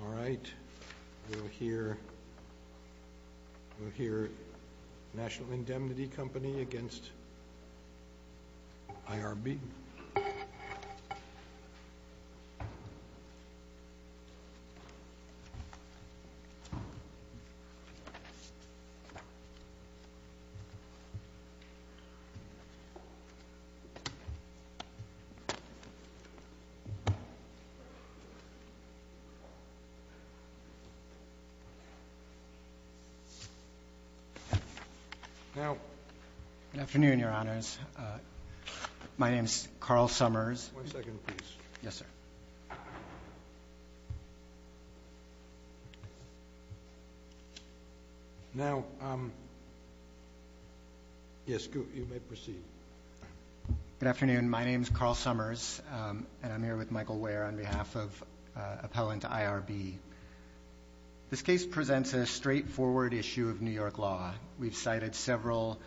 All right, we'll hear National Indemnity Company against IRB. Now, good afternoon, your honors. My name is Carl Summers. One second, please. Yes, sir. Now, yes, you may proceed. Good afternoon. My name is Carl Summers, and I'm here with Michael Ware on behalf of appellant IRB. This case presents a straightforward issue of New York law. We've cited several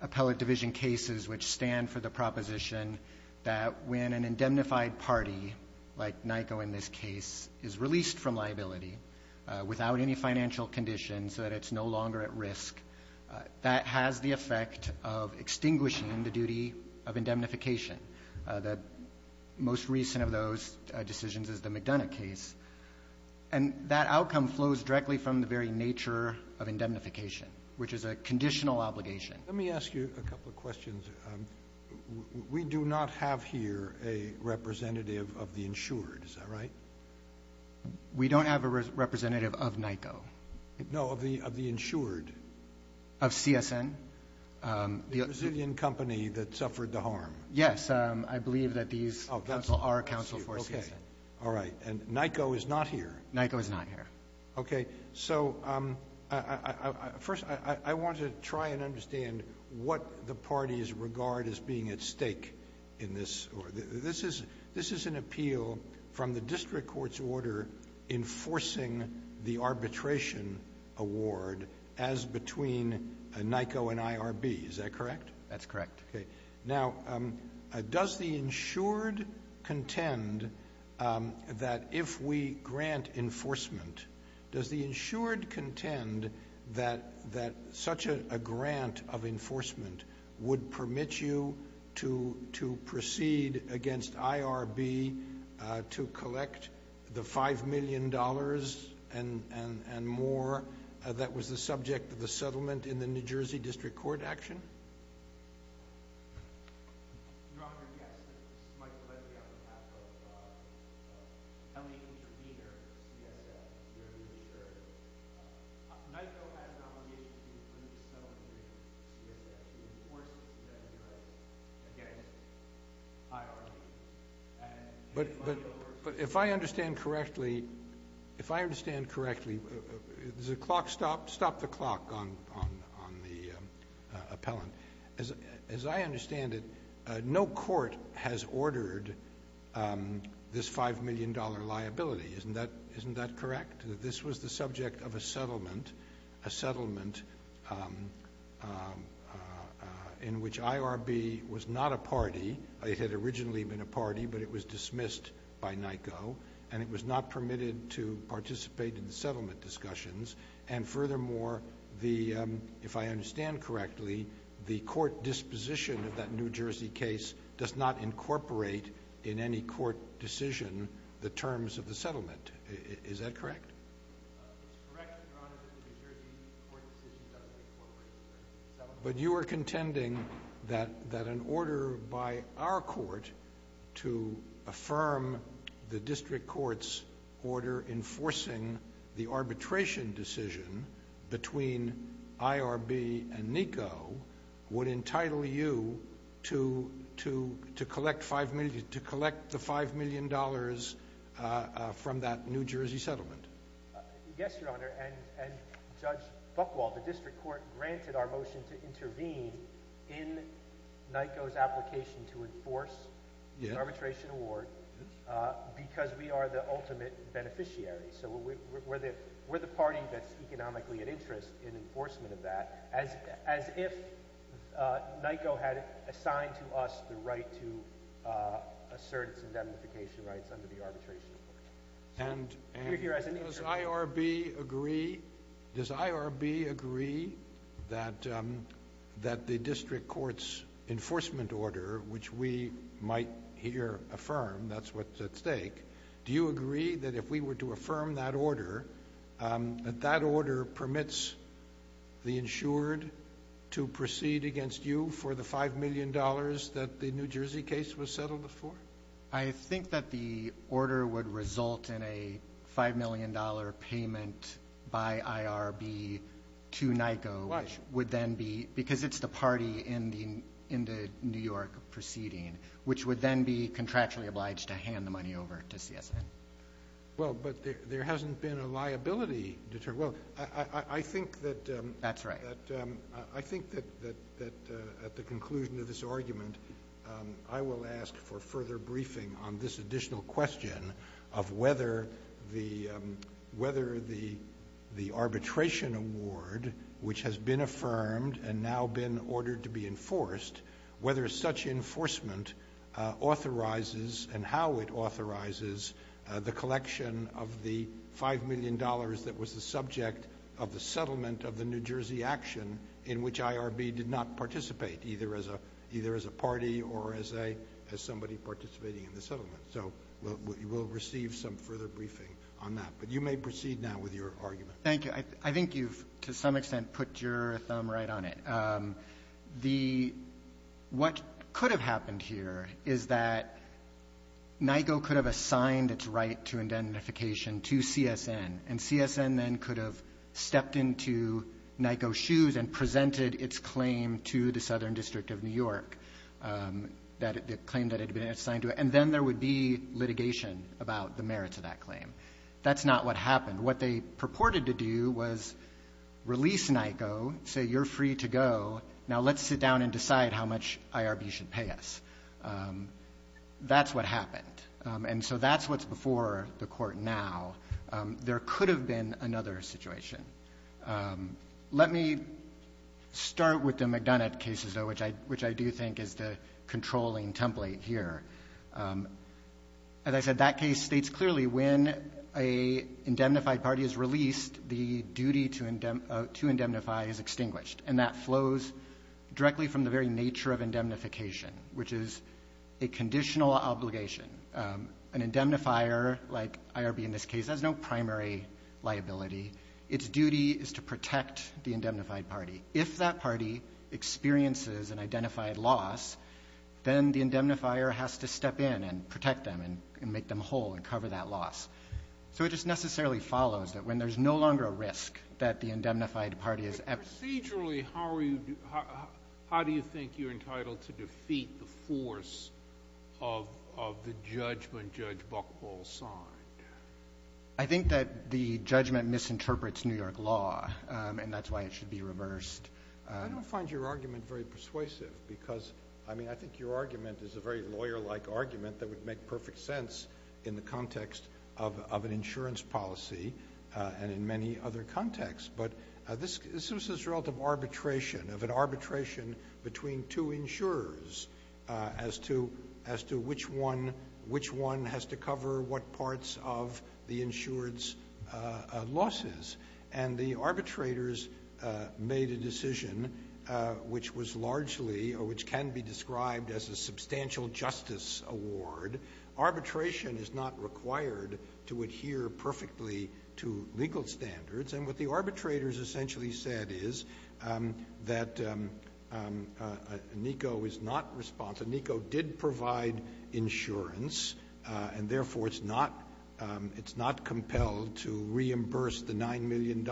appellate division cases which stand for the proposition that when an indemnified party, like NICO in this case, is released from liability without any financial conditions, that it's no longer at risk, that has the effect of extinguishing the duty of indemnification. The most recent of those decisions is the McDonough case, and that outcome flows directly from the very nature of indemnification, which is a conditional obligation. Let me ask you a couple of questions. We do not have here a representative of the insured. Is that right? We don't have a representative of NICO. No, of the insured. Of CSN. The Brazilian company that suffered the harm. Yes. I believe that these are counsel for CSN. All right. And NICO is not here. NICO is not here. Okay. So first, I want to try and understand what the parties regard as being at stake in this. This is an appeal from the district court's order enforcing the arbitration award as between NICO and IRB. Is that correct? That's correct. Okay. Now, does the insured contend that if we grant enforcement, does the insured contend that such a grant of enforcement would permit you to proceed against IRB to collect the $5 million and more that was the subject of the settlement in the New Jersey district court action? Your Honor, yes. This is Michael Ledley on behalf of an illegal intervener for CSF. You're the insured. NICO has an obligation to include the settlement agreement with CSF. It enforces that you're against IRB. But if I understand correctly, if I understand correctly, does the clock stop? I'll stop the clock on the appellant. As I understand it, no court has ordered this $5 million liability. Isn't that correct? This was the subject of a settlement, a settlement in which IRB was not a party. It had originally been a party, but it was dismissed by NICO, and it was not permitted to participate in the settlement discussions. And furthermore, if I understand correctly, the court disposition of that New Jersey case does not incorporate in any court decision the terms of the settlement. Is that correct? It's correct, Your Honor, that the New Jersey court decision doesn't incorporate the terms of the settlement. But you are contending that an order by our court to affirm the district court's order enforcing the arbitration decision between IRB and NICO would entitle you to collect the $5 million from that New Jersey settlement. Yes, Your Honor. And Judge Buchwald, the district court granted our motion to intervene in NICO's application to enforce the arbitration award because we are the ultimate beneficiary. So we're the party that's economically at interest in enforcement of that, as if NICO had assigned to us the right to assert its indemnification rights under the arbitration award. And does IRB agree that the district court's enforcement order, which we might here affirm, that's what's at stake, do you agree that if we were to affirm that order, that that order permits the insured to proceed against you for the $5 million that the New Jersey case was settled for? I think that the order would result in a $5 million payment by IRB to NICO, which would then be ‑‑ Why? Because it's the party in the New York proceeding, which would then be contractually obliged to hand the money over to CSN. Well, but there hasn't been a liability deterred. Well, I think that ‑‑ That's right. I think that at the conclusion of this argument, I will ask for further briefing on this additional question of whether the arbitration award, which has been affirmed and now been ordered to be enforced, whether such enforcement authorizes and how it authorizes the collection of the $5 million that was the subject of the settlement of the New Jersey action in which IRB did not participate, either as a party or as somebody participating in the settlement. So we'll receive some further briefing on that. But you may proceed now with your argument. Thank you. I think you've, to some extent, put your thumb right on it. The ‑‑ what could have happened here is that NICO could have assigned its right to indemnification to CSN, and CSN then could have stepped into NICO's shoes and presented its claim to the Southern District of New York, the claim that had been assigned to it. And then there would be litigation about the merits of that claim. That's not what happened. What they purported to do was release NICO, say you're free to go. Now let's sit down and decide how much IRB should pay us. That's what happened. And so that's what's before the court now. There could have been another situation. Let me start with the McDonough cases, though, which I do think is the controlling template here. As I said, that case states clearly when an indemnified party is released, the duty to indemnify is extinguished. And that flows directly from the very nature of indemnification, which is a conditional obligation. An indemnifier, like IRB in this case, has no primary liability. Its duty is to protect the indemnified party. If that party experiences an identified loss, then the indemnifier has to step in and protect them and make them whole and cover that loss. So it just necessarily follows that when there's no longer a risk that the indemnified party is ever ---- But procedurally, how do you think you're entitled to defeat the force of the judgment Judge Buchwald signed? I think that the judgment misinterprets New York law, and that's why it should be reversed. I don't find your argument very persuasive because, I mean, I think your argument is a very lawyer-like argument that would make perfect sense in the context of an insurance policy and in many other contexts. But this was this relative arbitration, of an arbitration between two insurers as to which one has to cover what parts of the insured's losses. And the arbitrators made a decision which was largely or which can be described as a substantial justice award. Arbitration is not required to adhere perfectly to legal standards. And what the arbitrators essentially said is that NICO is not responsible. NICO did provide insurance, and therefore it's not compelled to reimburse the $9 million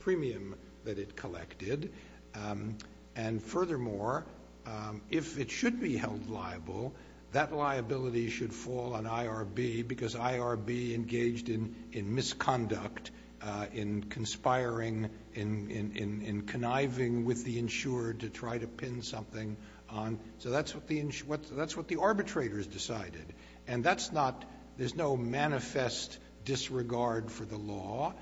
premium that it collected. And furthermore, if it should be held liable, that liability should fall on IRB because IRB engaged in misconduct, in conspiring, in conniving with the insurer to try to pin something on. So that's what the arbitrators decided. And that's not – there's no manifest disregard for the law.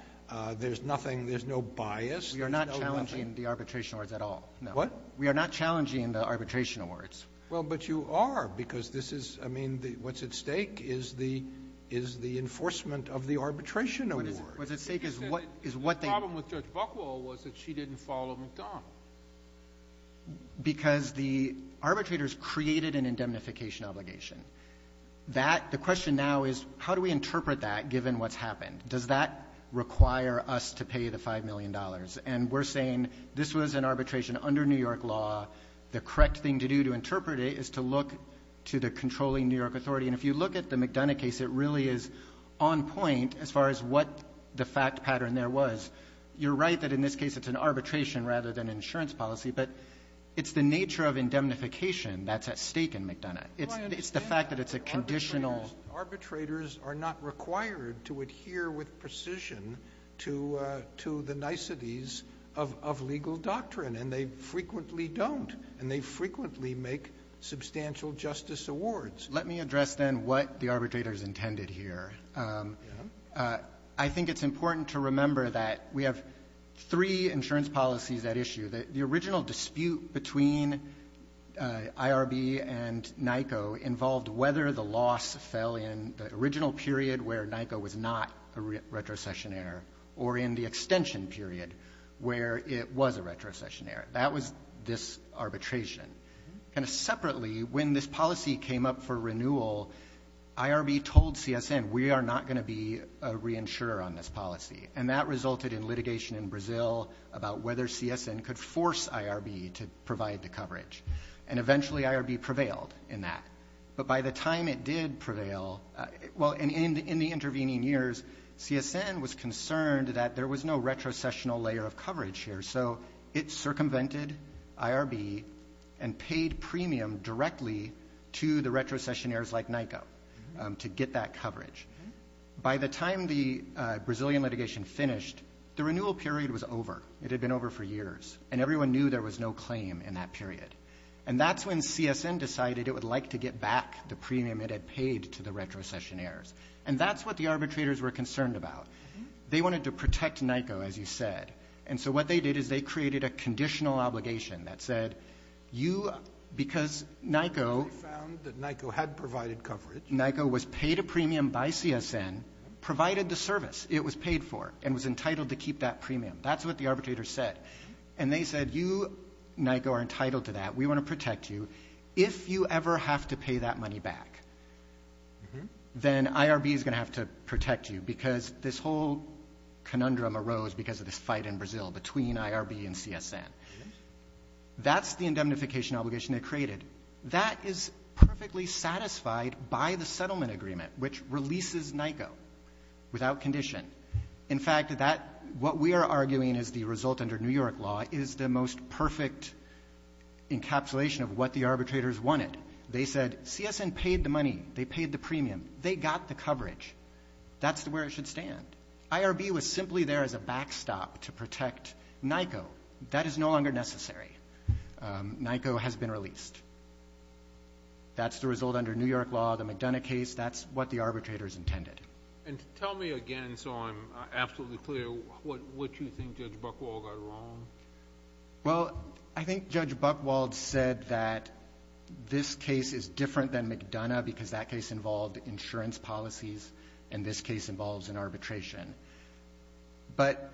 There's nothing – there's no bias. There's no nothing. We are not challenging the arbitration awards at all. What? We are not challenging the arbitration awards. Well, but you are because this is – I mean, what's at stake is the enforcement of the arbitration awards. What's at stake is what they – The problem with Judge Buchwald was that she didn't follow McDonald. Because the arbitrators created an indemnification obligation. That – the question now is how do we interpret that given what's happened? Does that require us to pay the $5 million? And we're saying this was an arbitration under New York law. The correct thing to do to interpret it is to look to the controlling New York authority. And if you look at the McDonough case, it really is on point as far as what the fact pattern there was. You're right that in this case it's an arbitration rather than insurance policy. But it's the nature of indemnification that's at stake in McDonough. It's the fact that it's a conditional – of legal doctrine. And they frequently don't. And they frequently make substantial justice awards. Let me address, then, what the arbitrators intended here. I think it's important to remember that we have three insurance policies at issue. The original dispute between IRB and NICO involved whether the loss fell in the original period where NICO was not a retrocessionaire or in the extension period where it was a retrocessionaire. That was this arbitration. And separately, when this policy came up for renewal, IRB told CSN, we are not going to be a reinsurer on this policy. And that resulted in litigation in Brazil about whether CSN could force IRB to provide the coverage. And eventually IRB prevailed in that. But by the time it did prevail, well, in the intervening years, CSN was concerned that there was no retrocessional layer of coverage here. So it circumvented IRB and paid premium directly to the retrocessionaires like NICO to get that coverage. By the time the Brazilian litigation finished, the renewal period was over. It had been over for years. And everyone knew there was no claim in that period. And that's when CSN decided it would like to get back the premium it had paid to the retrocessionaires. And that's what the arbitrators were concerned about. They wanted to protect NICO, as you said. And so what they did is they created a conditional obligation that said, you, because NICO ---- They found that NICO had provided coverage. NICO was paid a premium by CSN, provided the service it was paid for, and was entitled to keep that premium. That's what the arbitrators said. And they said, you, NICO, are entitled to that. We want to protect you. If you ever have to pay that money back, then IRB is going to have to protect you, because this whole conundrum arose because of this fight in Brazil between IRB and CSN. That's the indemnification obligation they created. That is perfectly satisfied by the settlement agreement, which releases NICO without condition. In fact, what we are arguing is the result under New York law is the most perfect encapsulation of what the arbitrators wanted. They said, CSN paid the money. They paid the premium. They got the coverage. That's where it should stand. IRB was simply there as a backstop to protect NICO. That is no longer necessary. NICO has been released. That's the result under New York law. The McDonough case, that's what the arbitrators intended. And tell me again, so I'm absolutely clear, what you think Judge Buchwald got wrong. Well, I think Judge Buchwald said that this case is different than McDonough because that case involved insurance policies and this case involves an arbitration. But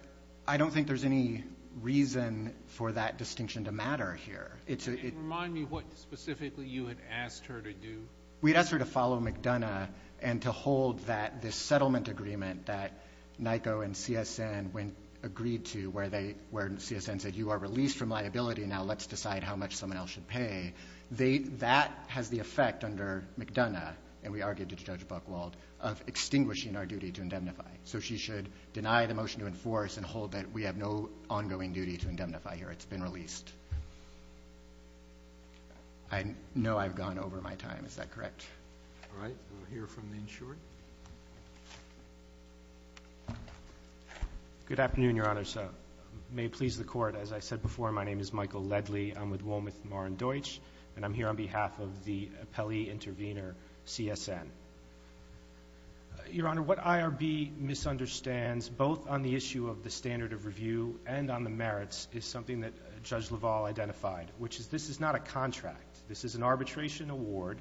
I don't think there's any reason for that distinction to matter here. Remind me what specifically you had asked her to do. We asked her to follow McDonough and to hold that this settlement agreement that NICO and CSN agreed to, where CSN said you are released from liability, now let's decide how much someone else should pay. That has the effect under McDonough, and we argued to Judge Buchwald, of extinguishing our duty to indemnify. So she should deny the motion to enforce and hold that we have no ongoing duty to indemnify here. It's been released. I know I've gone over my time. Is that correct? All right. We'll hear from the insured. Good afternoon, Your Honor. May it please the Court. As I said before, my name is Michael Ledley. I'm with Wometh, Mar and Deutsch, and I'm here on behalf of the appellee intervener, CSN. Your Honor, what IRB misunderstands, both on the issue of the standard of review and on the merits, is something that Judge LaValle identified, which is this is not a contract. This is an arbitration award.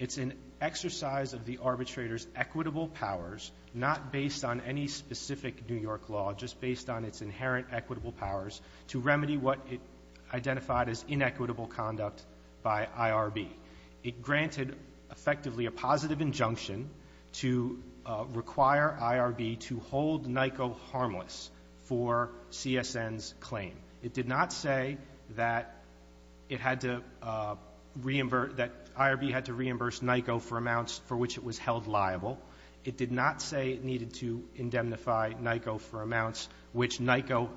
It's an exercise of the arbitrator's equitable powers, not based on any specific New York law, just based on its inherent equitable powers to remedy what it identified as inequitable conduct by IRB. It granted, effectively, a positive injunction to require IRB to hold NICO harmless for CSN's claim. It did not say that it had to reimburse, that IRB had to reimburse NICO for amounts for which it was held liable. It did not say it needed to indemnify NICO for amounts which NICO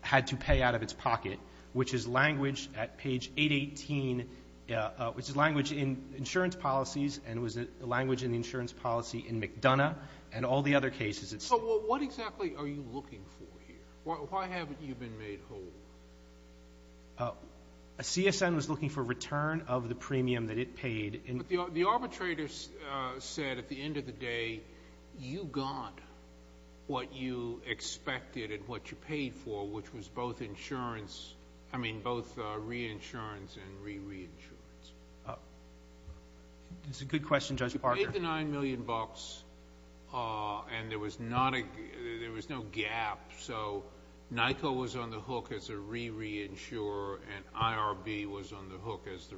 had to pay out of its pocket, which is language at page 818, which is language in insurance policies and was the language in the insurance policy in McDonough and all the other cases. So what exactly are you looking for here? Why haven't you been made whole? CSN was looking for return of the premium that it paid. The arbitrator said at the end of the day, you got what you expected and what you paid for, which was both reinsurance and re-reinsurance. That's a good question, Judge Parker. You paid the $9 million and there was no gap, so NICO was on the hook as a re-reinsurer and IRB was on the hook as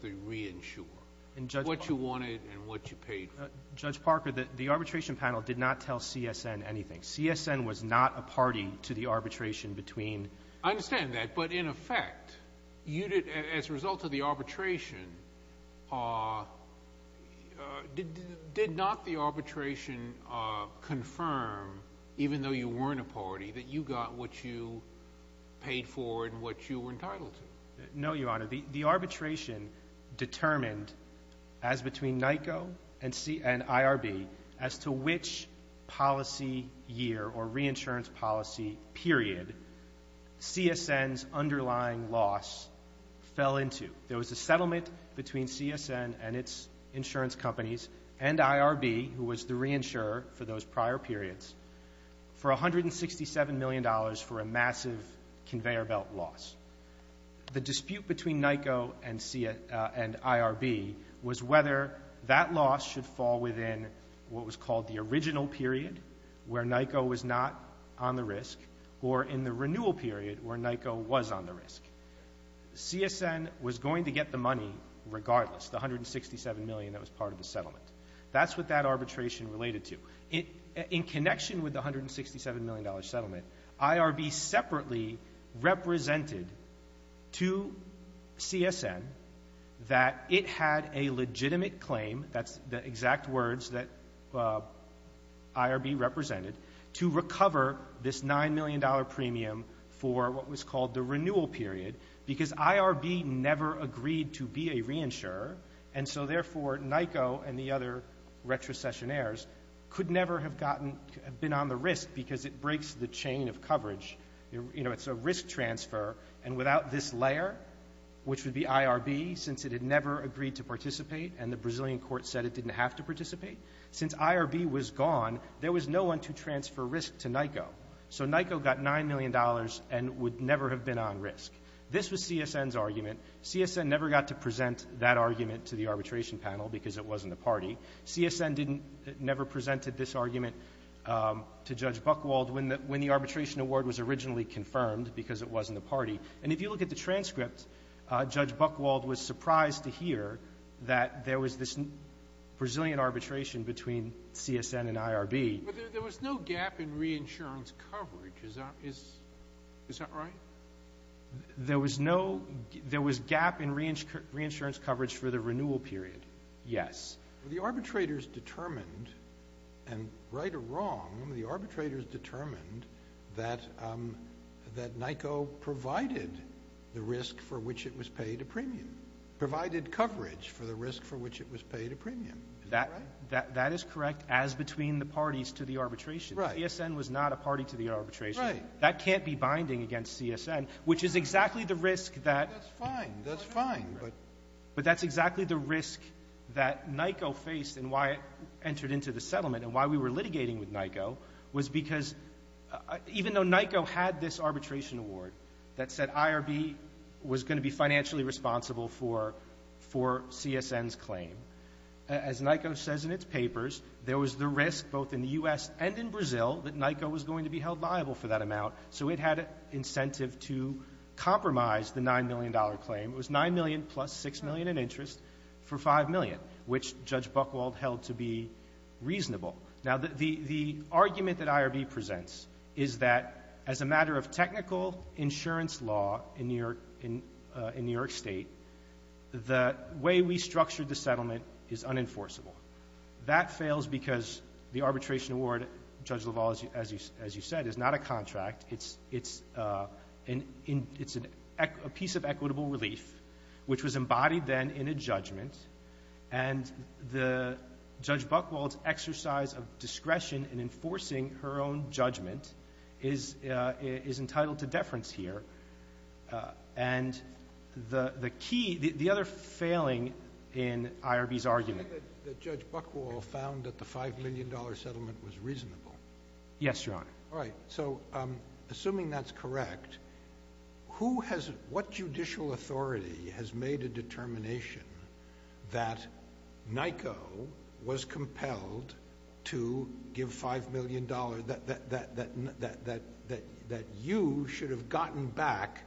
the reinsurer. What you wanted and what you paid for. Judge Parker, the arbitration panel did not tell CSN anything. CSN was not a party to the arbitration between. I understand that, but in effect, as a result of the arbitration, did not the arbitration confirm, even though you weren't a party, that you got what you paid for and what you were entitled to? No, Your Honor. The arbitration determined as between NICO and IRB as to which policy year or reinsurance policy period CSN's underlying loss fell into. There was a settlement between CSN and its insurance companies and IRB, who was the reinsurer for those prior periods, for $167 million for a massive conveyor belt loss. The dispute between NICO and IRB was whether that loss should fall within what was called the original period where NICO was not on the risk or in the renewal period where NICO was on the risk. CSN was going to get the money regardless, the $167 million that was part of the settlement. That's what that arbitration related to. In connection with the $167 million settlement, IRB separately represented to CSN that it had a legitimate claim, that's the exact words that IRB represented, to recover this $9 million premium for what was called the renewal period because IRB never agreed to be a reinsurer, and so therefore NICO and the other retrocessionaires could never have been on the risk because it breaks the chain of coverage. It's a risk transfer, and without this layer, which would be IRB, since it had never agreed to participate and the Brazilian court said it didn't have to participate, since IRB was gone, there was no one to transfer risk to NICO. So NICO got $9 million and would never have been on risk. This was CSN's argument. CSN never got to present that argument to the arbitration panel because it wasn't a party. CSN never presented this argument to Judge Buchwald when the arbitration award was originally confirmed because it wasn't a party. And if you look at the transcript, Judge Buchwald was surprised to hear that there was this Brazilian arbitration between CSN and IRB. But there was no gap in reinsurance coverage. Is that right? There was gap in reinsurance coverage for the renewal period, yes. The arbitrators determined, and right or wrong, the arbitrators determined that NICO provided the risk for which it was paid a premium, provided coverage for the risk for which it was paid a premium. That is correct as between the parties to the arbitration. CSN was not a party to the arbitration. That can't be binding against CSN, which is exactly the risk that That's fine. That's fine. But that's exactly the risk that NICO faced and why it entered into the settlement and why we were litigating with NICO was because even though NICO had this arbitration award that said IRB was going to be financially responsible for CSN's claim, as NICO says in its papers, there was the risk both in the U.S. and in Brazil that NICO was going to be held liable for that amount, so it had incentive to compromise the $9 million claim. It was $9 million plus $6 million in interest for $5 million, which Judge Buchwald held to be reasonable. Now, the argument that IRB presents is that as a matter of technical insurance law in New York State, the way we structured the settlement is unenforceable. That fails because the arbitration award, Judge LaValle, as you said, is not a contract. It's a piece of equitable relief, which was embodied then in a judgment, and Judge Buchwald's exercise of discretion in enforcing her own judgment is entitled to deference here. The other failing in IRB's argument— You said that Judge Buchwald found that the $5 million settlement was reasonable. Yes, Your Honor. All right, so assuming that's correct, what judicial authority has made a determination that NICO was compelled to give $5 million that you should have gotten back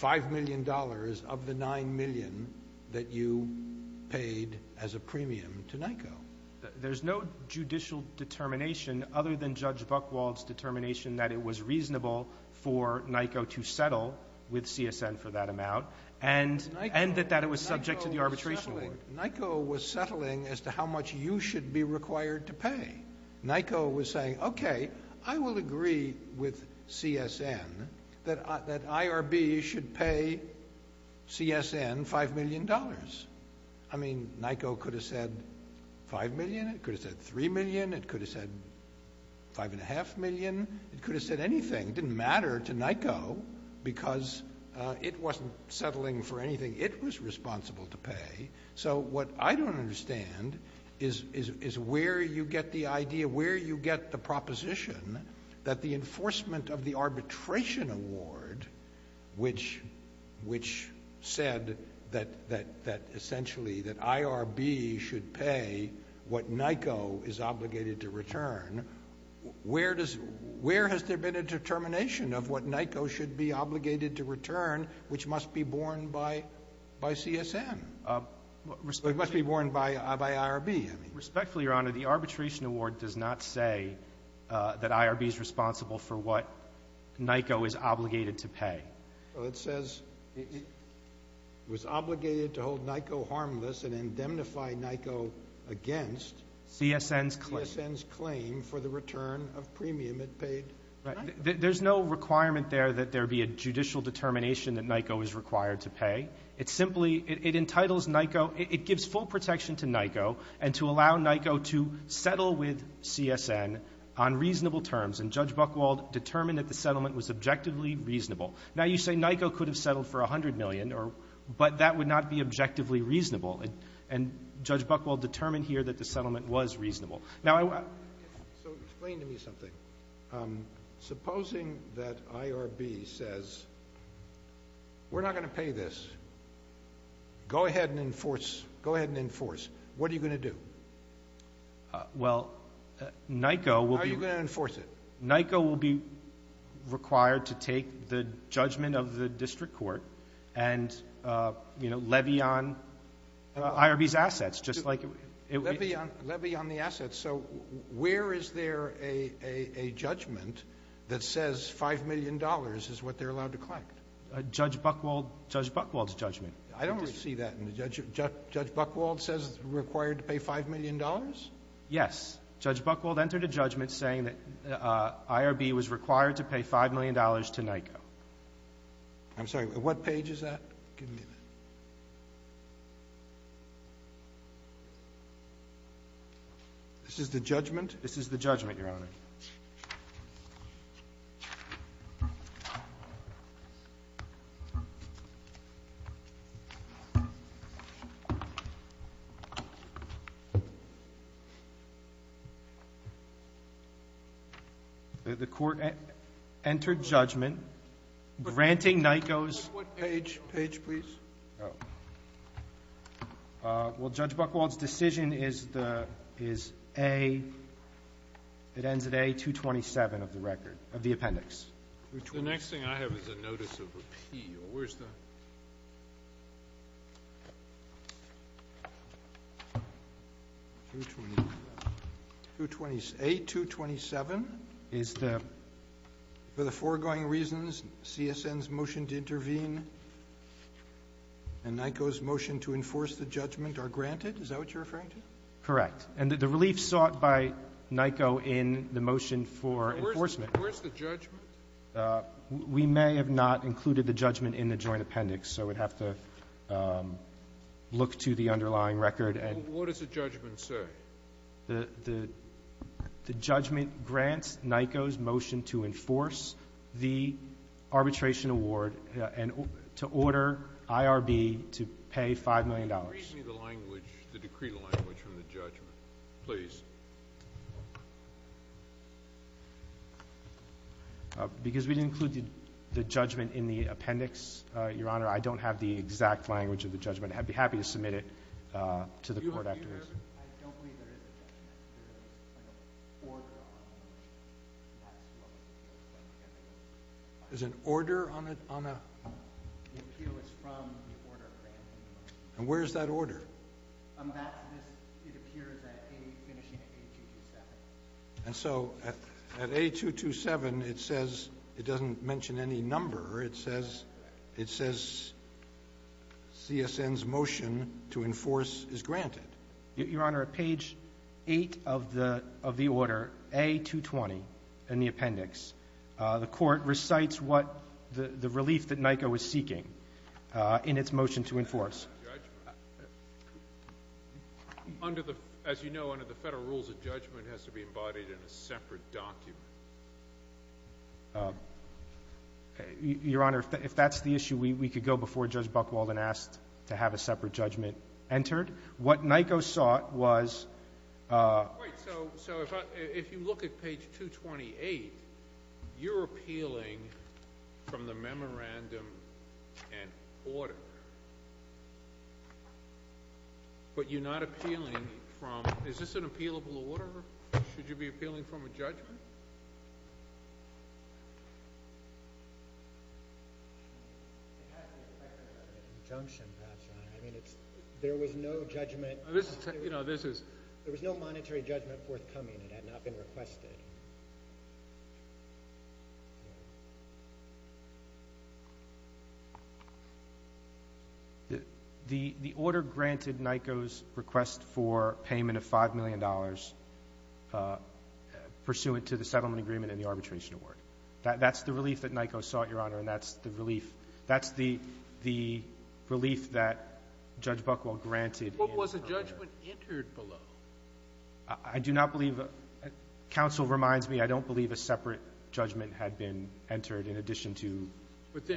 $5 million of the $9 million that you paid as a premium to NICO? There's no judicial determination other than Judge Buchwald's determination that it was reasonable for NICO to settle with CSN for that amount, and that it was subject to the arbitration award. NICO was settling as to how much you should be required to pay. NICO was saying, okay, I will agree with CSN that IRB should pay CSN $5 million. I mean, NICO could have said $5 million. It could have said $3 million. It could have said $5.5 million. It could have said anything. It didn't matter to NICO because it wasn't settling for anything. It was responsible to pay. So what I don't understand is where you get the idea, where you get the proposition that the enforcement of the arbitration award, which said that essentially that IRB should pay what NICO is obligated to return, where has there been a determination of what NICO should be obligated to return, which must be borne by CSN? It must be borne by IRB. Respectfully, Your Honor, the arbitration award does not say that IRB is responsible for what NICO is obligated to pay. Well, it says it was obligated to hold NICO harmless and indemnify NICO against CSN's claim for the return of premium it paid NICO. There's no requirement there that there be a judicial determination that NICO is required to pay. It's simply – it entitles NICO – it gives full protection to NICO and to allow NICO to settle with CSN on reasonable terms. And Judge Buchwald determined that the settlement was objectively reasonable. Now, you say NICO could have settled for $100 million, but that would not be objectively reasonable. And Judge Buchwald determined here that the settlement was reasonable. So explain to me something. Supposing that IRB says, we're not going to pay this. Go ahead and enforce. Go ahead and enforce. What are you going to do? Well, NICO will be – How are you going to enforce it? NICO will be required to take the judgment of the district court and, you know, levy on IRB's assets, just like – Levy on the assets. So where is there a judgment that says $5 million is what they're allowed to collect? Judge Buchwald's judgment. I don't see that in the judgment. Judge Buchwald says it's required to pay $5 million? Yes. Judge Buchwald entered a judgment saying that IRB was required to pay $5 million to NICO. I'm sorry. What page is that? Give me that. This is the judgment? This is the judgment, Your Honor. The court entered judgment granting NICO's – What page? Page, please. Oh. Well, Judge Buchwald's decision is the – is A – it ends at A-227 of the record – of the appendix. The next thing I have is a notice of repeal. Where's the – A-227 is the – for the foregoing reasons, CSN's motion to intervene. And NICO's motion to enforce the judgment are granted? Is that what you're referring to? Correct. And the relief sought by NICO in the motion for enforcement – Where's the judgment? We may have not included the judgment in the joint appendix, so we'd have to look to the underlying record and – Well, what does the judgment say? The judgment grants NICO's motion to enforce the arbitration award and to order IRB to pay $5 million. Can you read me the language, the decree language from the judgment, please? Because we didn't include the judgment in the appendix, Your Honor, I don't have the exact language of the judgment. I'd be happy to submit it to the court afterwards. I don't believe there is a judgment. There is an order on the motion. And that's what was given. There's an order on a – The appeal is from the order granted. And where is that order? It appears at A – finishing at A-227. And so at A-227 it says – it doesn't mention any number. It says – it says CSN's motion to enforce is granted. Your Honor, at page 8 of the order, A-220 in the appendix, the court recites what the relief that NICO is seeking in its motion to enforce. Under the – as you know, under the Federal rules, a judgment has to be embodied in a separate document. Your Honor, if that's the issue, we could go before Judge Buchwald and ask to have a separate judgment entered. What NICO sought was – Wait. So if you look at page 228, you're appealing from the memorandum and order. But you're not appealing from – is this an appealable order? Should you be appealing from a judgment? It has the effect of an injunction, perhaps, Your Honor. I mean, it's – there was no judgment – This is – you know, this is – There was no monetary judgment forthcoming. It had not been requested. The order granted NICO's request for payment of $5 million pursuant to the settlement agreement and the arbitration award. That's the relief that NICO sought, Your Honor, and that's the relief – that's the relief that Judge Buchwald granted. What was the judgment entered below? I do not believe – counsel reminds me I don't believe a separate judgment had been entered in addition to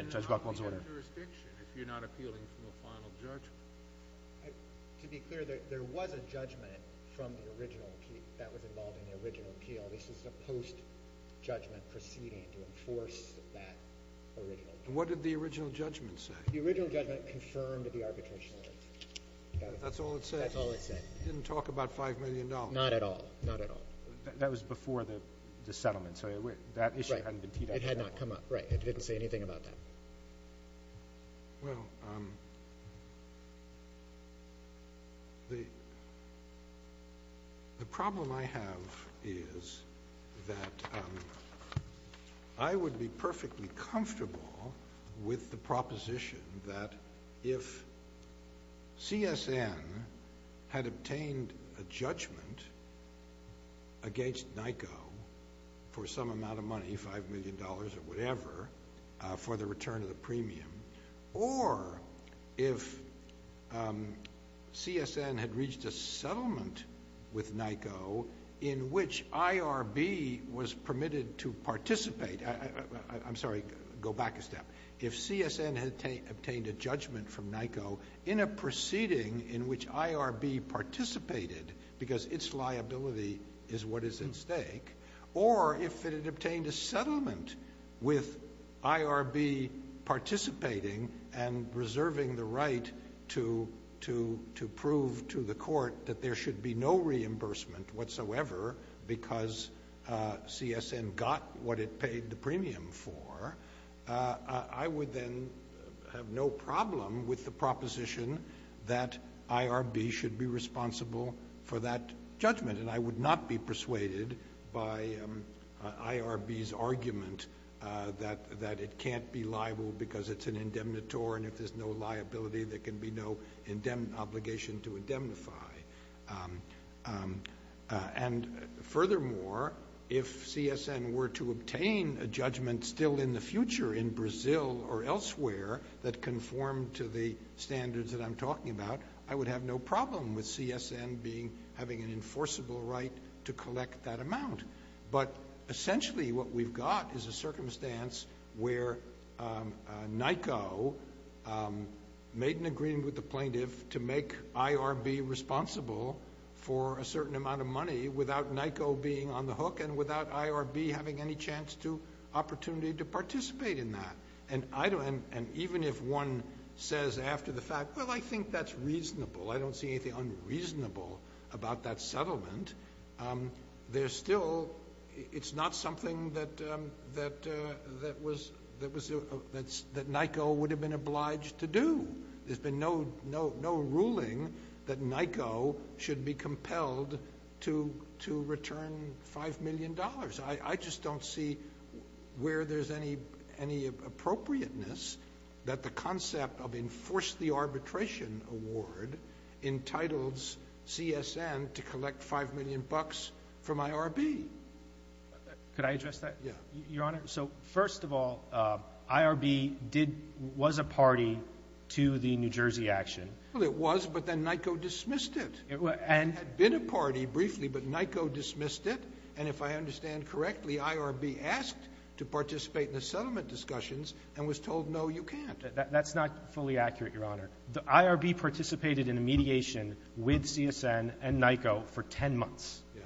Judge Buchwald's order. But then how can you have jurisdiction if you're not appealing from a final judgment? To be clear, there was a judgment from the original – that was involved in the original appeal. This is a post-judgment proceeding to enforce that original – What did the original judgment say? The original judgment confirmed the arbitration. That's all it said? That's all it said. It didn't talk about $5 million. Not at all. Not at all. That was before the settlement, so that issue hadn't been teed up at all. Right. It had not come up. Right. It didn't say anything about that. Well, the problem I have is that I would be perfectly comfortable with the proposition that if CSN had obtained a judgment against NICO for some amount of money, $5 million or whatever, for the return of the premium, or if CSN had reached a settlement with NICO in which IRB was permitted to participate – I'm sorry, go back a step. If CSN had obtained a judgment from NICO in a proceeding in which IRB participated because its liability is what is at stake, or if it had obtained a settlement with IRB participating and reserving the right to prove to the court that there should be no reimbursement whatsoever because CSN got what it paid the premium for, I would then have no problem with the proposition that IRB should be responsible for that judgment. And I would not be persuaded by IRB's argument that it can't be liable because it's an indemnitor, and if there's no liability, there can be no obligation to indemnify. And furthermore, if CSN were to obtain a judgment still in the future in Brazil or elsewhere that conformed to the standards that I'm talking about, I would have no problem with CSN having an enforceable right to collect that amount. But essentially what we've got is a circumstance where NICO made an agreement with the plaintiff to make IRB responsible for a certain amount of money without NICO being on the hook and without IRB having any chance to – opportunity to participate in that. And even if one says after the fact, well, I think that's reasonable, I don't see anything unreasonable about that settlement, there's still – it's not something that NICO would have been obliged to do. There's been no ruling that NICO should be compelled to return $5 million. I just don't see where there's any appropriateness that the concept of enforce the arbitration award entitles CSN to collect $5 million from IRB. Could I address that? Yeah. Your Honor, so first of all, IRB did – was a party to the New Jersey action. Well, it was, but then NICO dismissed it. It had been a party briefly, but NICO dismissed it. And if I understand correctly, IRB asked to participate in the settlement discussions and was told, no, you can't. That's not fully accurate, Your Honor. IRB participated in a mediation with CSN and NICO for 10 months. Yeah.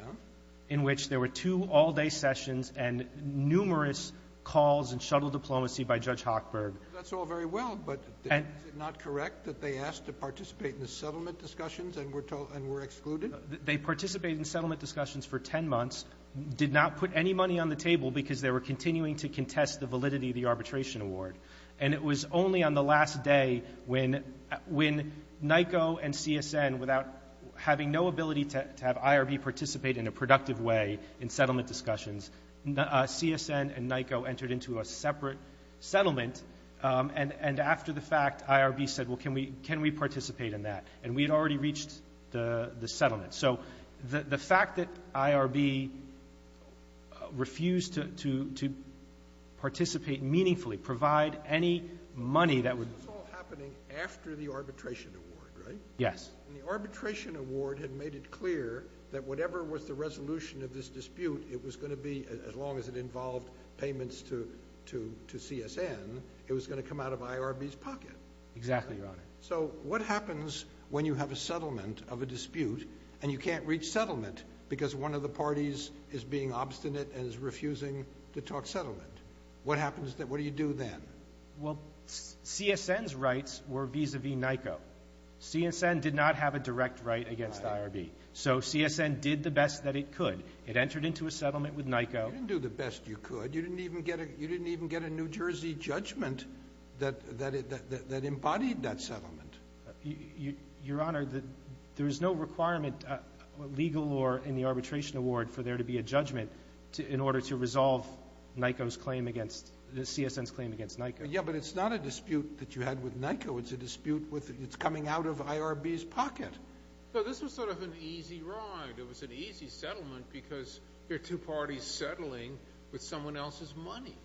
In which there were two all-day sessions and numerous calls and shuttle diplomacy by Judge Hochberg. That's all very well, but is it not correct that they asked to participate in the settlement discussions and were told – and were excluded? They participated in settlement discussions for 10 months, did not put any money on the table because they were continuing to contest the validity of the arbitration award. And it was only on the last day when NICO and CSN, without having no ability to have IRB participate in a productive way in settlement discussions, CSN and NICO entered into a separate settlement. And after the fact, IRB said, well, can we participate in that? And we had already reached the settlement. So the fact that IRB refused to participate meaningfully, provide any money that would – This was all happening after the arbitration award, right? Yes. And the arbitration award had made it clear that whatever was the resolution of this dispute, it was going to be, as long as it involved payments to CSN, it was going to come out of IRB's pocket. Exactly, Your Honor. So what happens when you have a settlement of a dispute and you can't reach settlement because one of the parties is being obstinate and is refusing to talk settlement? What happens – what do you do then? Well, CSN's rights were vis-a-vis NICO. CSN did not have a direct right against IRB. So CSN did the best that it could. It entered into a settlement with NICO. You didn't do the best you could. You didn't even get a New Jersey judgment that embodied that settlement. Your Honor, there is no requirement, legal or in the arbitration award, for there to be a judgment in order to resolve NICO's claim against – CSN's claim against NICO. Yeah, but it's not a dispute that you had with NICO. It's a dispute with – it's coming out of IRB's pocket. So this was sort of an easy ride. It was an easy settlement because you're two parties settling with someone else's money.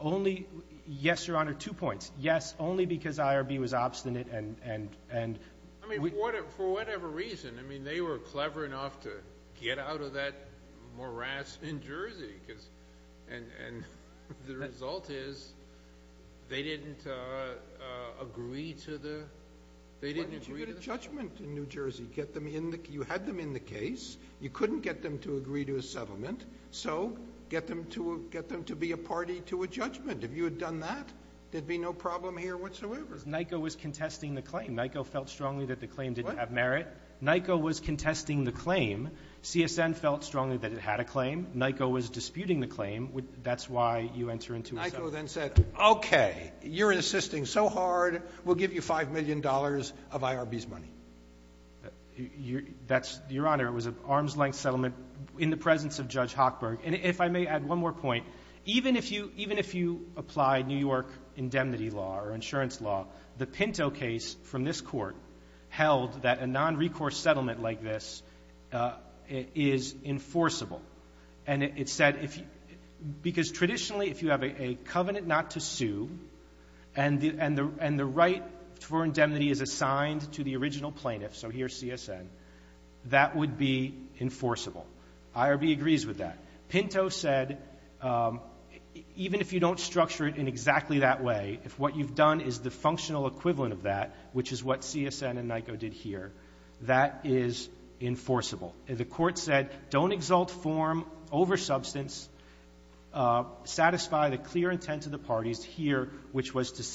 Only – yes, Your Honor, two points. Yes, only because IRB was obstinate and – I mean, for whatever reason. I mean, they were clever enough to get out of that morass in Jersey. And the result is they didn't agree to the – they didn't agree to the settlement. Why didn't you get a judgment in New Jersey? You had them in the case. You couldn't get them to agree to a settlement, so get them to be a party to a judgment. If you had done that, there'd be no problem here whatsoever. Because NICO was contesting the claim. NICO felt strongly that the claim didn't have merit. NICO was contesting the claim. CSN felt strongly that it had a claim. NICO was disputing the claim. That's why you enter into a settlement. NICO then said, okay, you're insisting so hard. We'll give you $5 million of IRB's money. That's – Your Honor, it was an arm's-length settlement in the presence of Judge Hochberg. And if I may add one more point, even if you – even if you apply New York indemnity law or insurance law, the Pinto case from this Court held that a nonrecourse settlement like this is enforceable. And it said if – because traditionally, if you have a covenant not to sue and the right for indemnity is assigned to the original plaintiff, so here's CSN, that would be enforceable. IRB agrees with that. Pinto said even if you don't structure it in exactly that way, if what you've done is the functional equivalent of that, which is what CSN and NICO did here, that is enforceable. The Court said don't exalt form over substance, satisfy the clear intent of the parties here, which was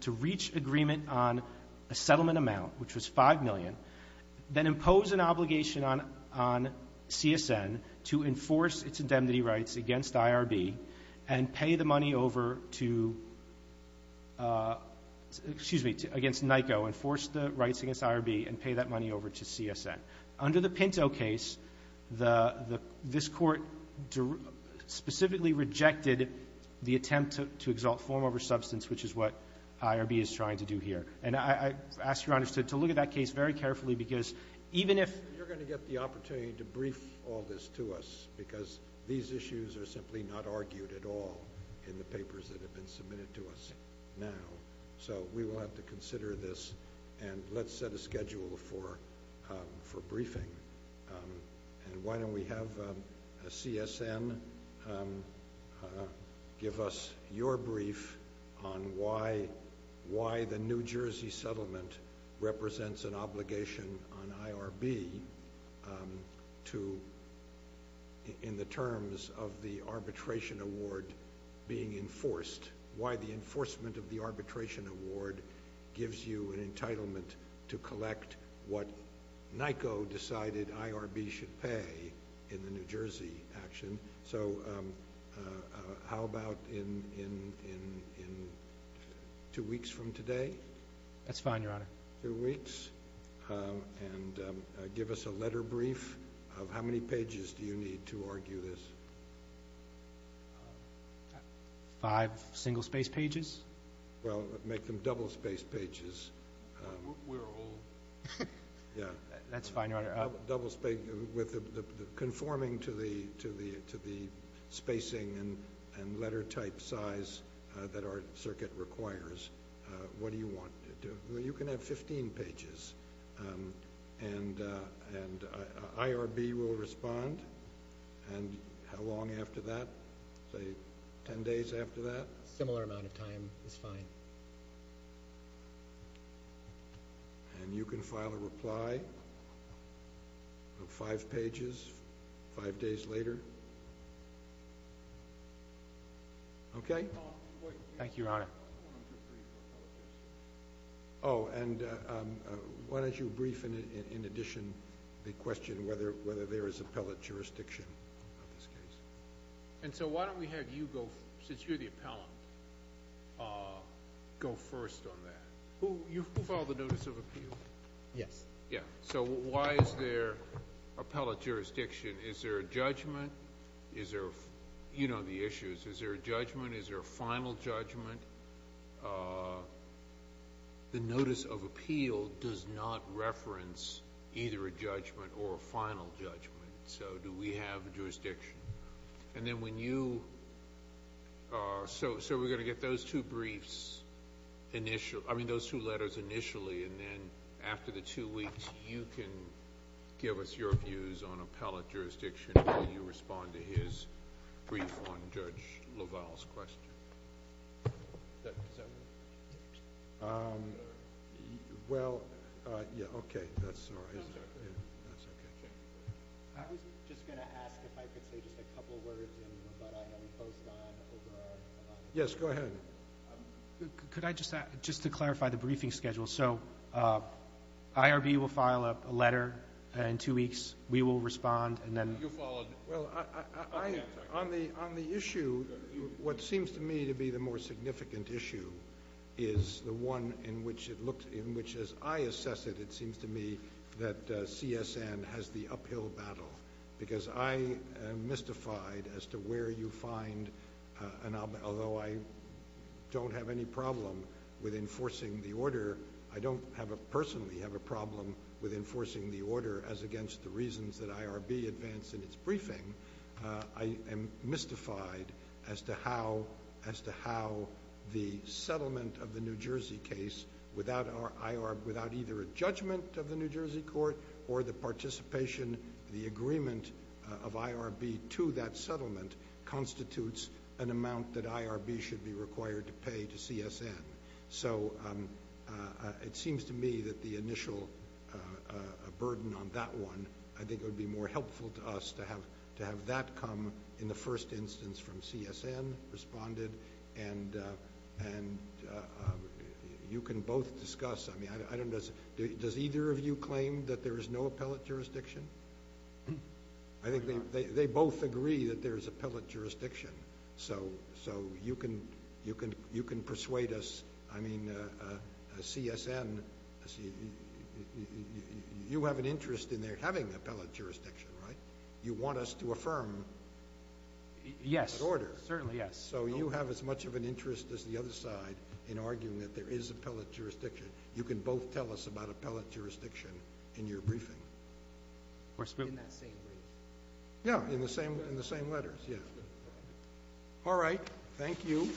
to reach agreement on a settlement amount, which was $5 million, then impose an obligation on CSN to enforce its indemnity rights against IRB and pay the money over to – excuse me, against NICO, enforce the rights against IRB and pay that money over to CSN. Under the Pinto case, the – this Court specifically rejected the attempt to exalt form over substance, which is what IRB is trying to do here. And I ask Your Honor to look at that case very carefully, because even if – You're going to get the opportunity to brief all this to us, because these issues are simply not argued at all in the papers that have been submitted to us now. So we will have to consider this, and let's set a schedule for briefing. And why don't we have CSN give us your brief on why the New Jersey settlement represents an obligation on IRB to – in the terms of the arbitration award being enforced, why the enforcement of the arbitration award gives you an entitlement to collect what NICO decided IRB should pay in the New Jersey action. So how about in two weeks from today? That's fine, Your Honor. Two weeks. And give us a letter brief of how many pages do you need to argue this? Five single-spaced pages? Well, make them double-spaced pages. We're old. Yeah. That's fine, Your Honor. Double-spaced – conforming to the spacing and letter type size that our circuit requires, what do you want to do? Well, you can have 15 pages, and IRB will respond. And how long after that? Say 10 days after that? Similar amount of time is fine. And you can file a reply of five pages five days later. Okay? Thank you, Your Honor. Oh, and why don't you brief in addition the question whether there is appellate jurisdiction in this case? And so why don't we have you go – since you're the appellant, go first on that. Who filed the notice of appeal? Yes. Yeah. So why is there appellate jurisdiction? Is there a judgment? Is there – you know the issues. Is there a judgment? Is there a final judgment? The notice of appeal does not reference either a judgment or a final judgment. So do we have a jurisdiction? And then when you – so we're going to get those two briefs – I mean those two letters initially, and then after the two weeks, you can give us your views on appellate Well, yeah, okay. That's all right. That's okay. Okay. I was just going to ask if I could say just a couple words in what I imposed on Oberoi. Yes. Go ahead. Could I just – just to clarify the briefing schedule. So IRB will file a letter in two weeks. We will respond. And then – You followed. Well, on the issue, what seems to me to be the more significant issue is the one in which it looked – in which as I assess it, it seems to me that CSN has the uphill battle because I am mystified as to where you find – and although I don't have any problem with enforcing the order, I don't have a – personally have a problem with enforcing the order as against the reasons that IRB advanced in its briefing. I am mystified as to how – as to how the settlement of the New Jersey case without our – without either a judgment of the New Jersey court or the participation, the agreement of IRB to that settlement constitutes an amount that IRB should be required to pay to CSN. So it seems to me that the initial burden on that one, I think it would be more helpful to us to have that come in the first instance from CSN responded. And you can both discuss – I mean, I don't – does either of you claim that there is no appellate jurisdiction? I think they both agree that there is appellate jurisdiction. So you can persuade us – I mean, CSN – you have an interest in their having appellate jurisdiction, right? You want us to affirm – Yes. – that order. Certainly, yes. So you have as much of an interest as the other side in arguing that there is appellate jurisdiction. You can both tell us about appellate jurisdiction in your briefing. In that same briefing? Yeah, in the same letters, yeah. All right. Thank you.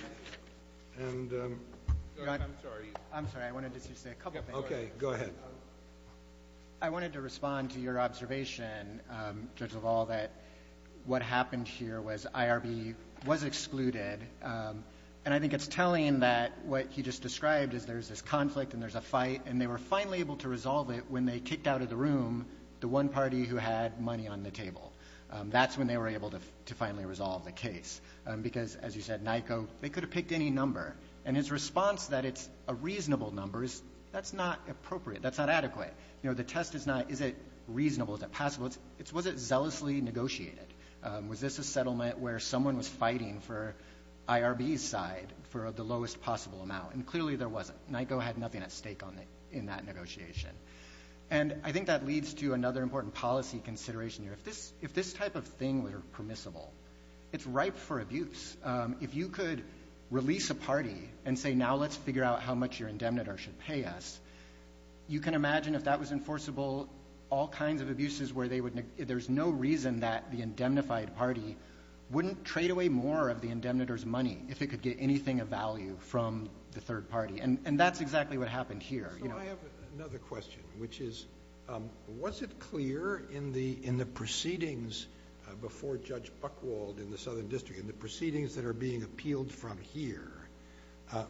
And – I'm sorry. I'm sorry. I wanted to just say a couple things. Okay. Go ahead. I wanted to respond to your observation, Judge LaValle, that what happened here was IRB was excluded. And I think it's telling that what he just described is there's this conflict and there's a fight, and they were finally able to resolve it when they kicked out of the room the one party who had money on the table. That's when they were able to finally resolve the case. Because, as you said, NICO, they could have picked any number. And his response that it's a reasonable number is that's not appropriate. That's not adequate. You know, the test is not is it reasonable, is it possible. It's was it zealously negotiated. Was this a settlement where someone was fighting for IRB's side for the lowest possible amount? And clearly there wasn't. NICO had nothing at stake in that negotiation. And I think that leads to another important policy consideration here. If this type of thing were permissible, it's ripe for abuse. If you could release a party and say now let's figure out how much your indemnitor should pay us, you can imagine if that was enforceable, all kinds of abuses where there's no reason that the indemnified party wouldn't trade away more of the indemnitor's money if it could get anything of value from the third party. And that's exactly what happened here. So I have another question, which is was it clear in the proceedings before Judge Buchwald in the Southern District, in the proceedings that are being appealed from here,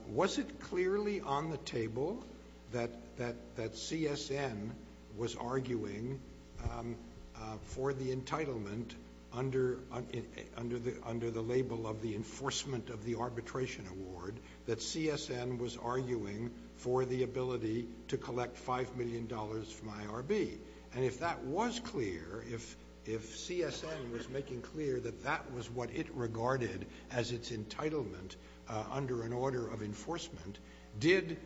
was it clearly on the table that CSN was arguing for the entitlement under the label of the IRB to collect $5 million from IRB? And if that was clear, if CSN was making clear that that was what it regarded as its entitlement under an order of enforcement, did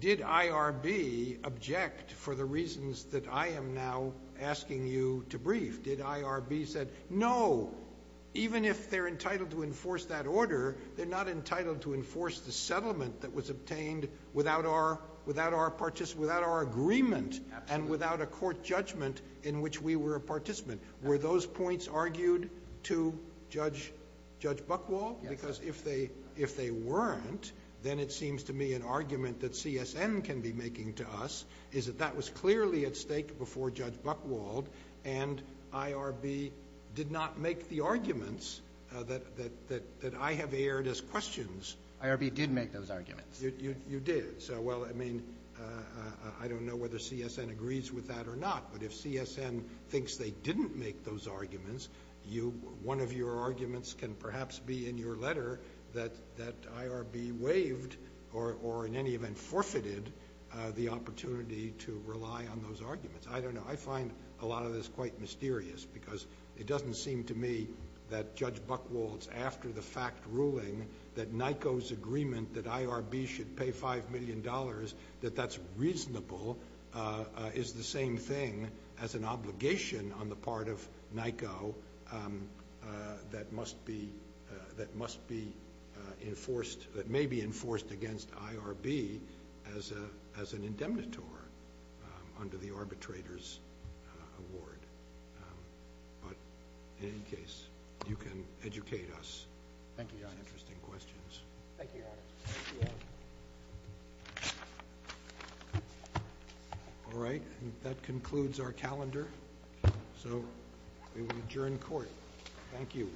IRB object for the reasons that I am now asking you to brief? Did IRB say, no, even if they're entitled to enforce that order, they're not entitled to enforce the settlement that was obtained without our agreement and without a court judgment in which we were a participant? Were those points argued to Judge Buchwald? Yes. Because if they weren't, then it seems to me an argument that CSN can be making to us is that that was clearly at stake before Judge Buchwald, and IRB did not make the arguments that I have aired as questions. IRB did make those arguments. You did. So, well, I mean, I don't know whether CSN agrees with that or not, but if CSN thinks they didn't make those arguments, one of your arguments can perhaps be in your letter that IRB waived or in any event forfeited the opportunity to rely on those arguments. I don't know. I find a lot of this quite mysterious because it doesn't seem to me that Judge Buchwald's after the fact ruling that NICO's agreement that IRB should pay $5 million, that that's reasonable, is the same thing as an obligation on the part of NICO that must be enforced against IRB as an indemnitor under the arbitrator's award. But in any case, you can educate us on those interesting questions. Thank you, Your Honor. Thank you, Your Honor. All right. That concludes our calendar, so we will adjourn court. Thank you.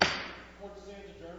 Court is adjourned. Thank you.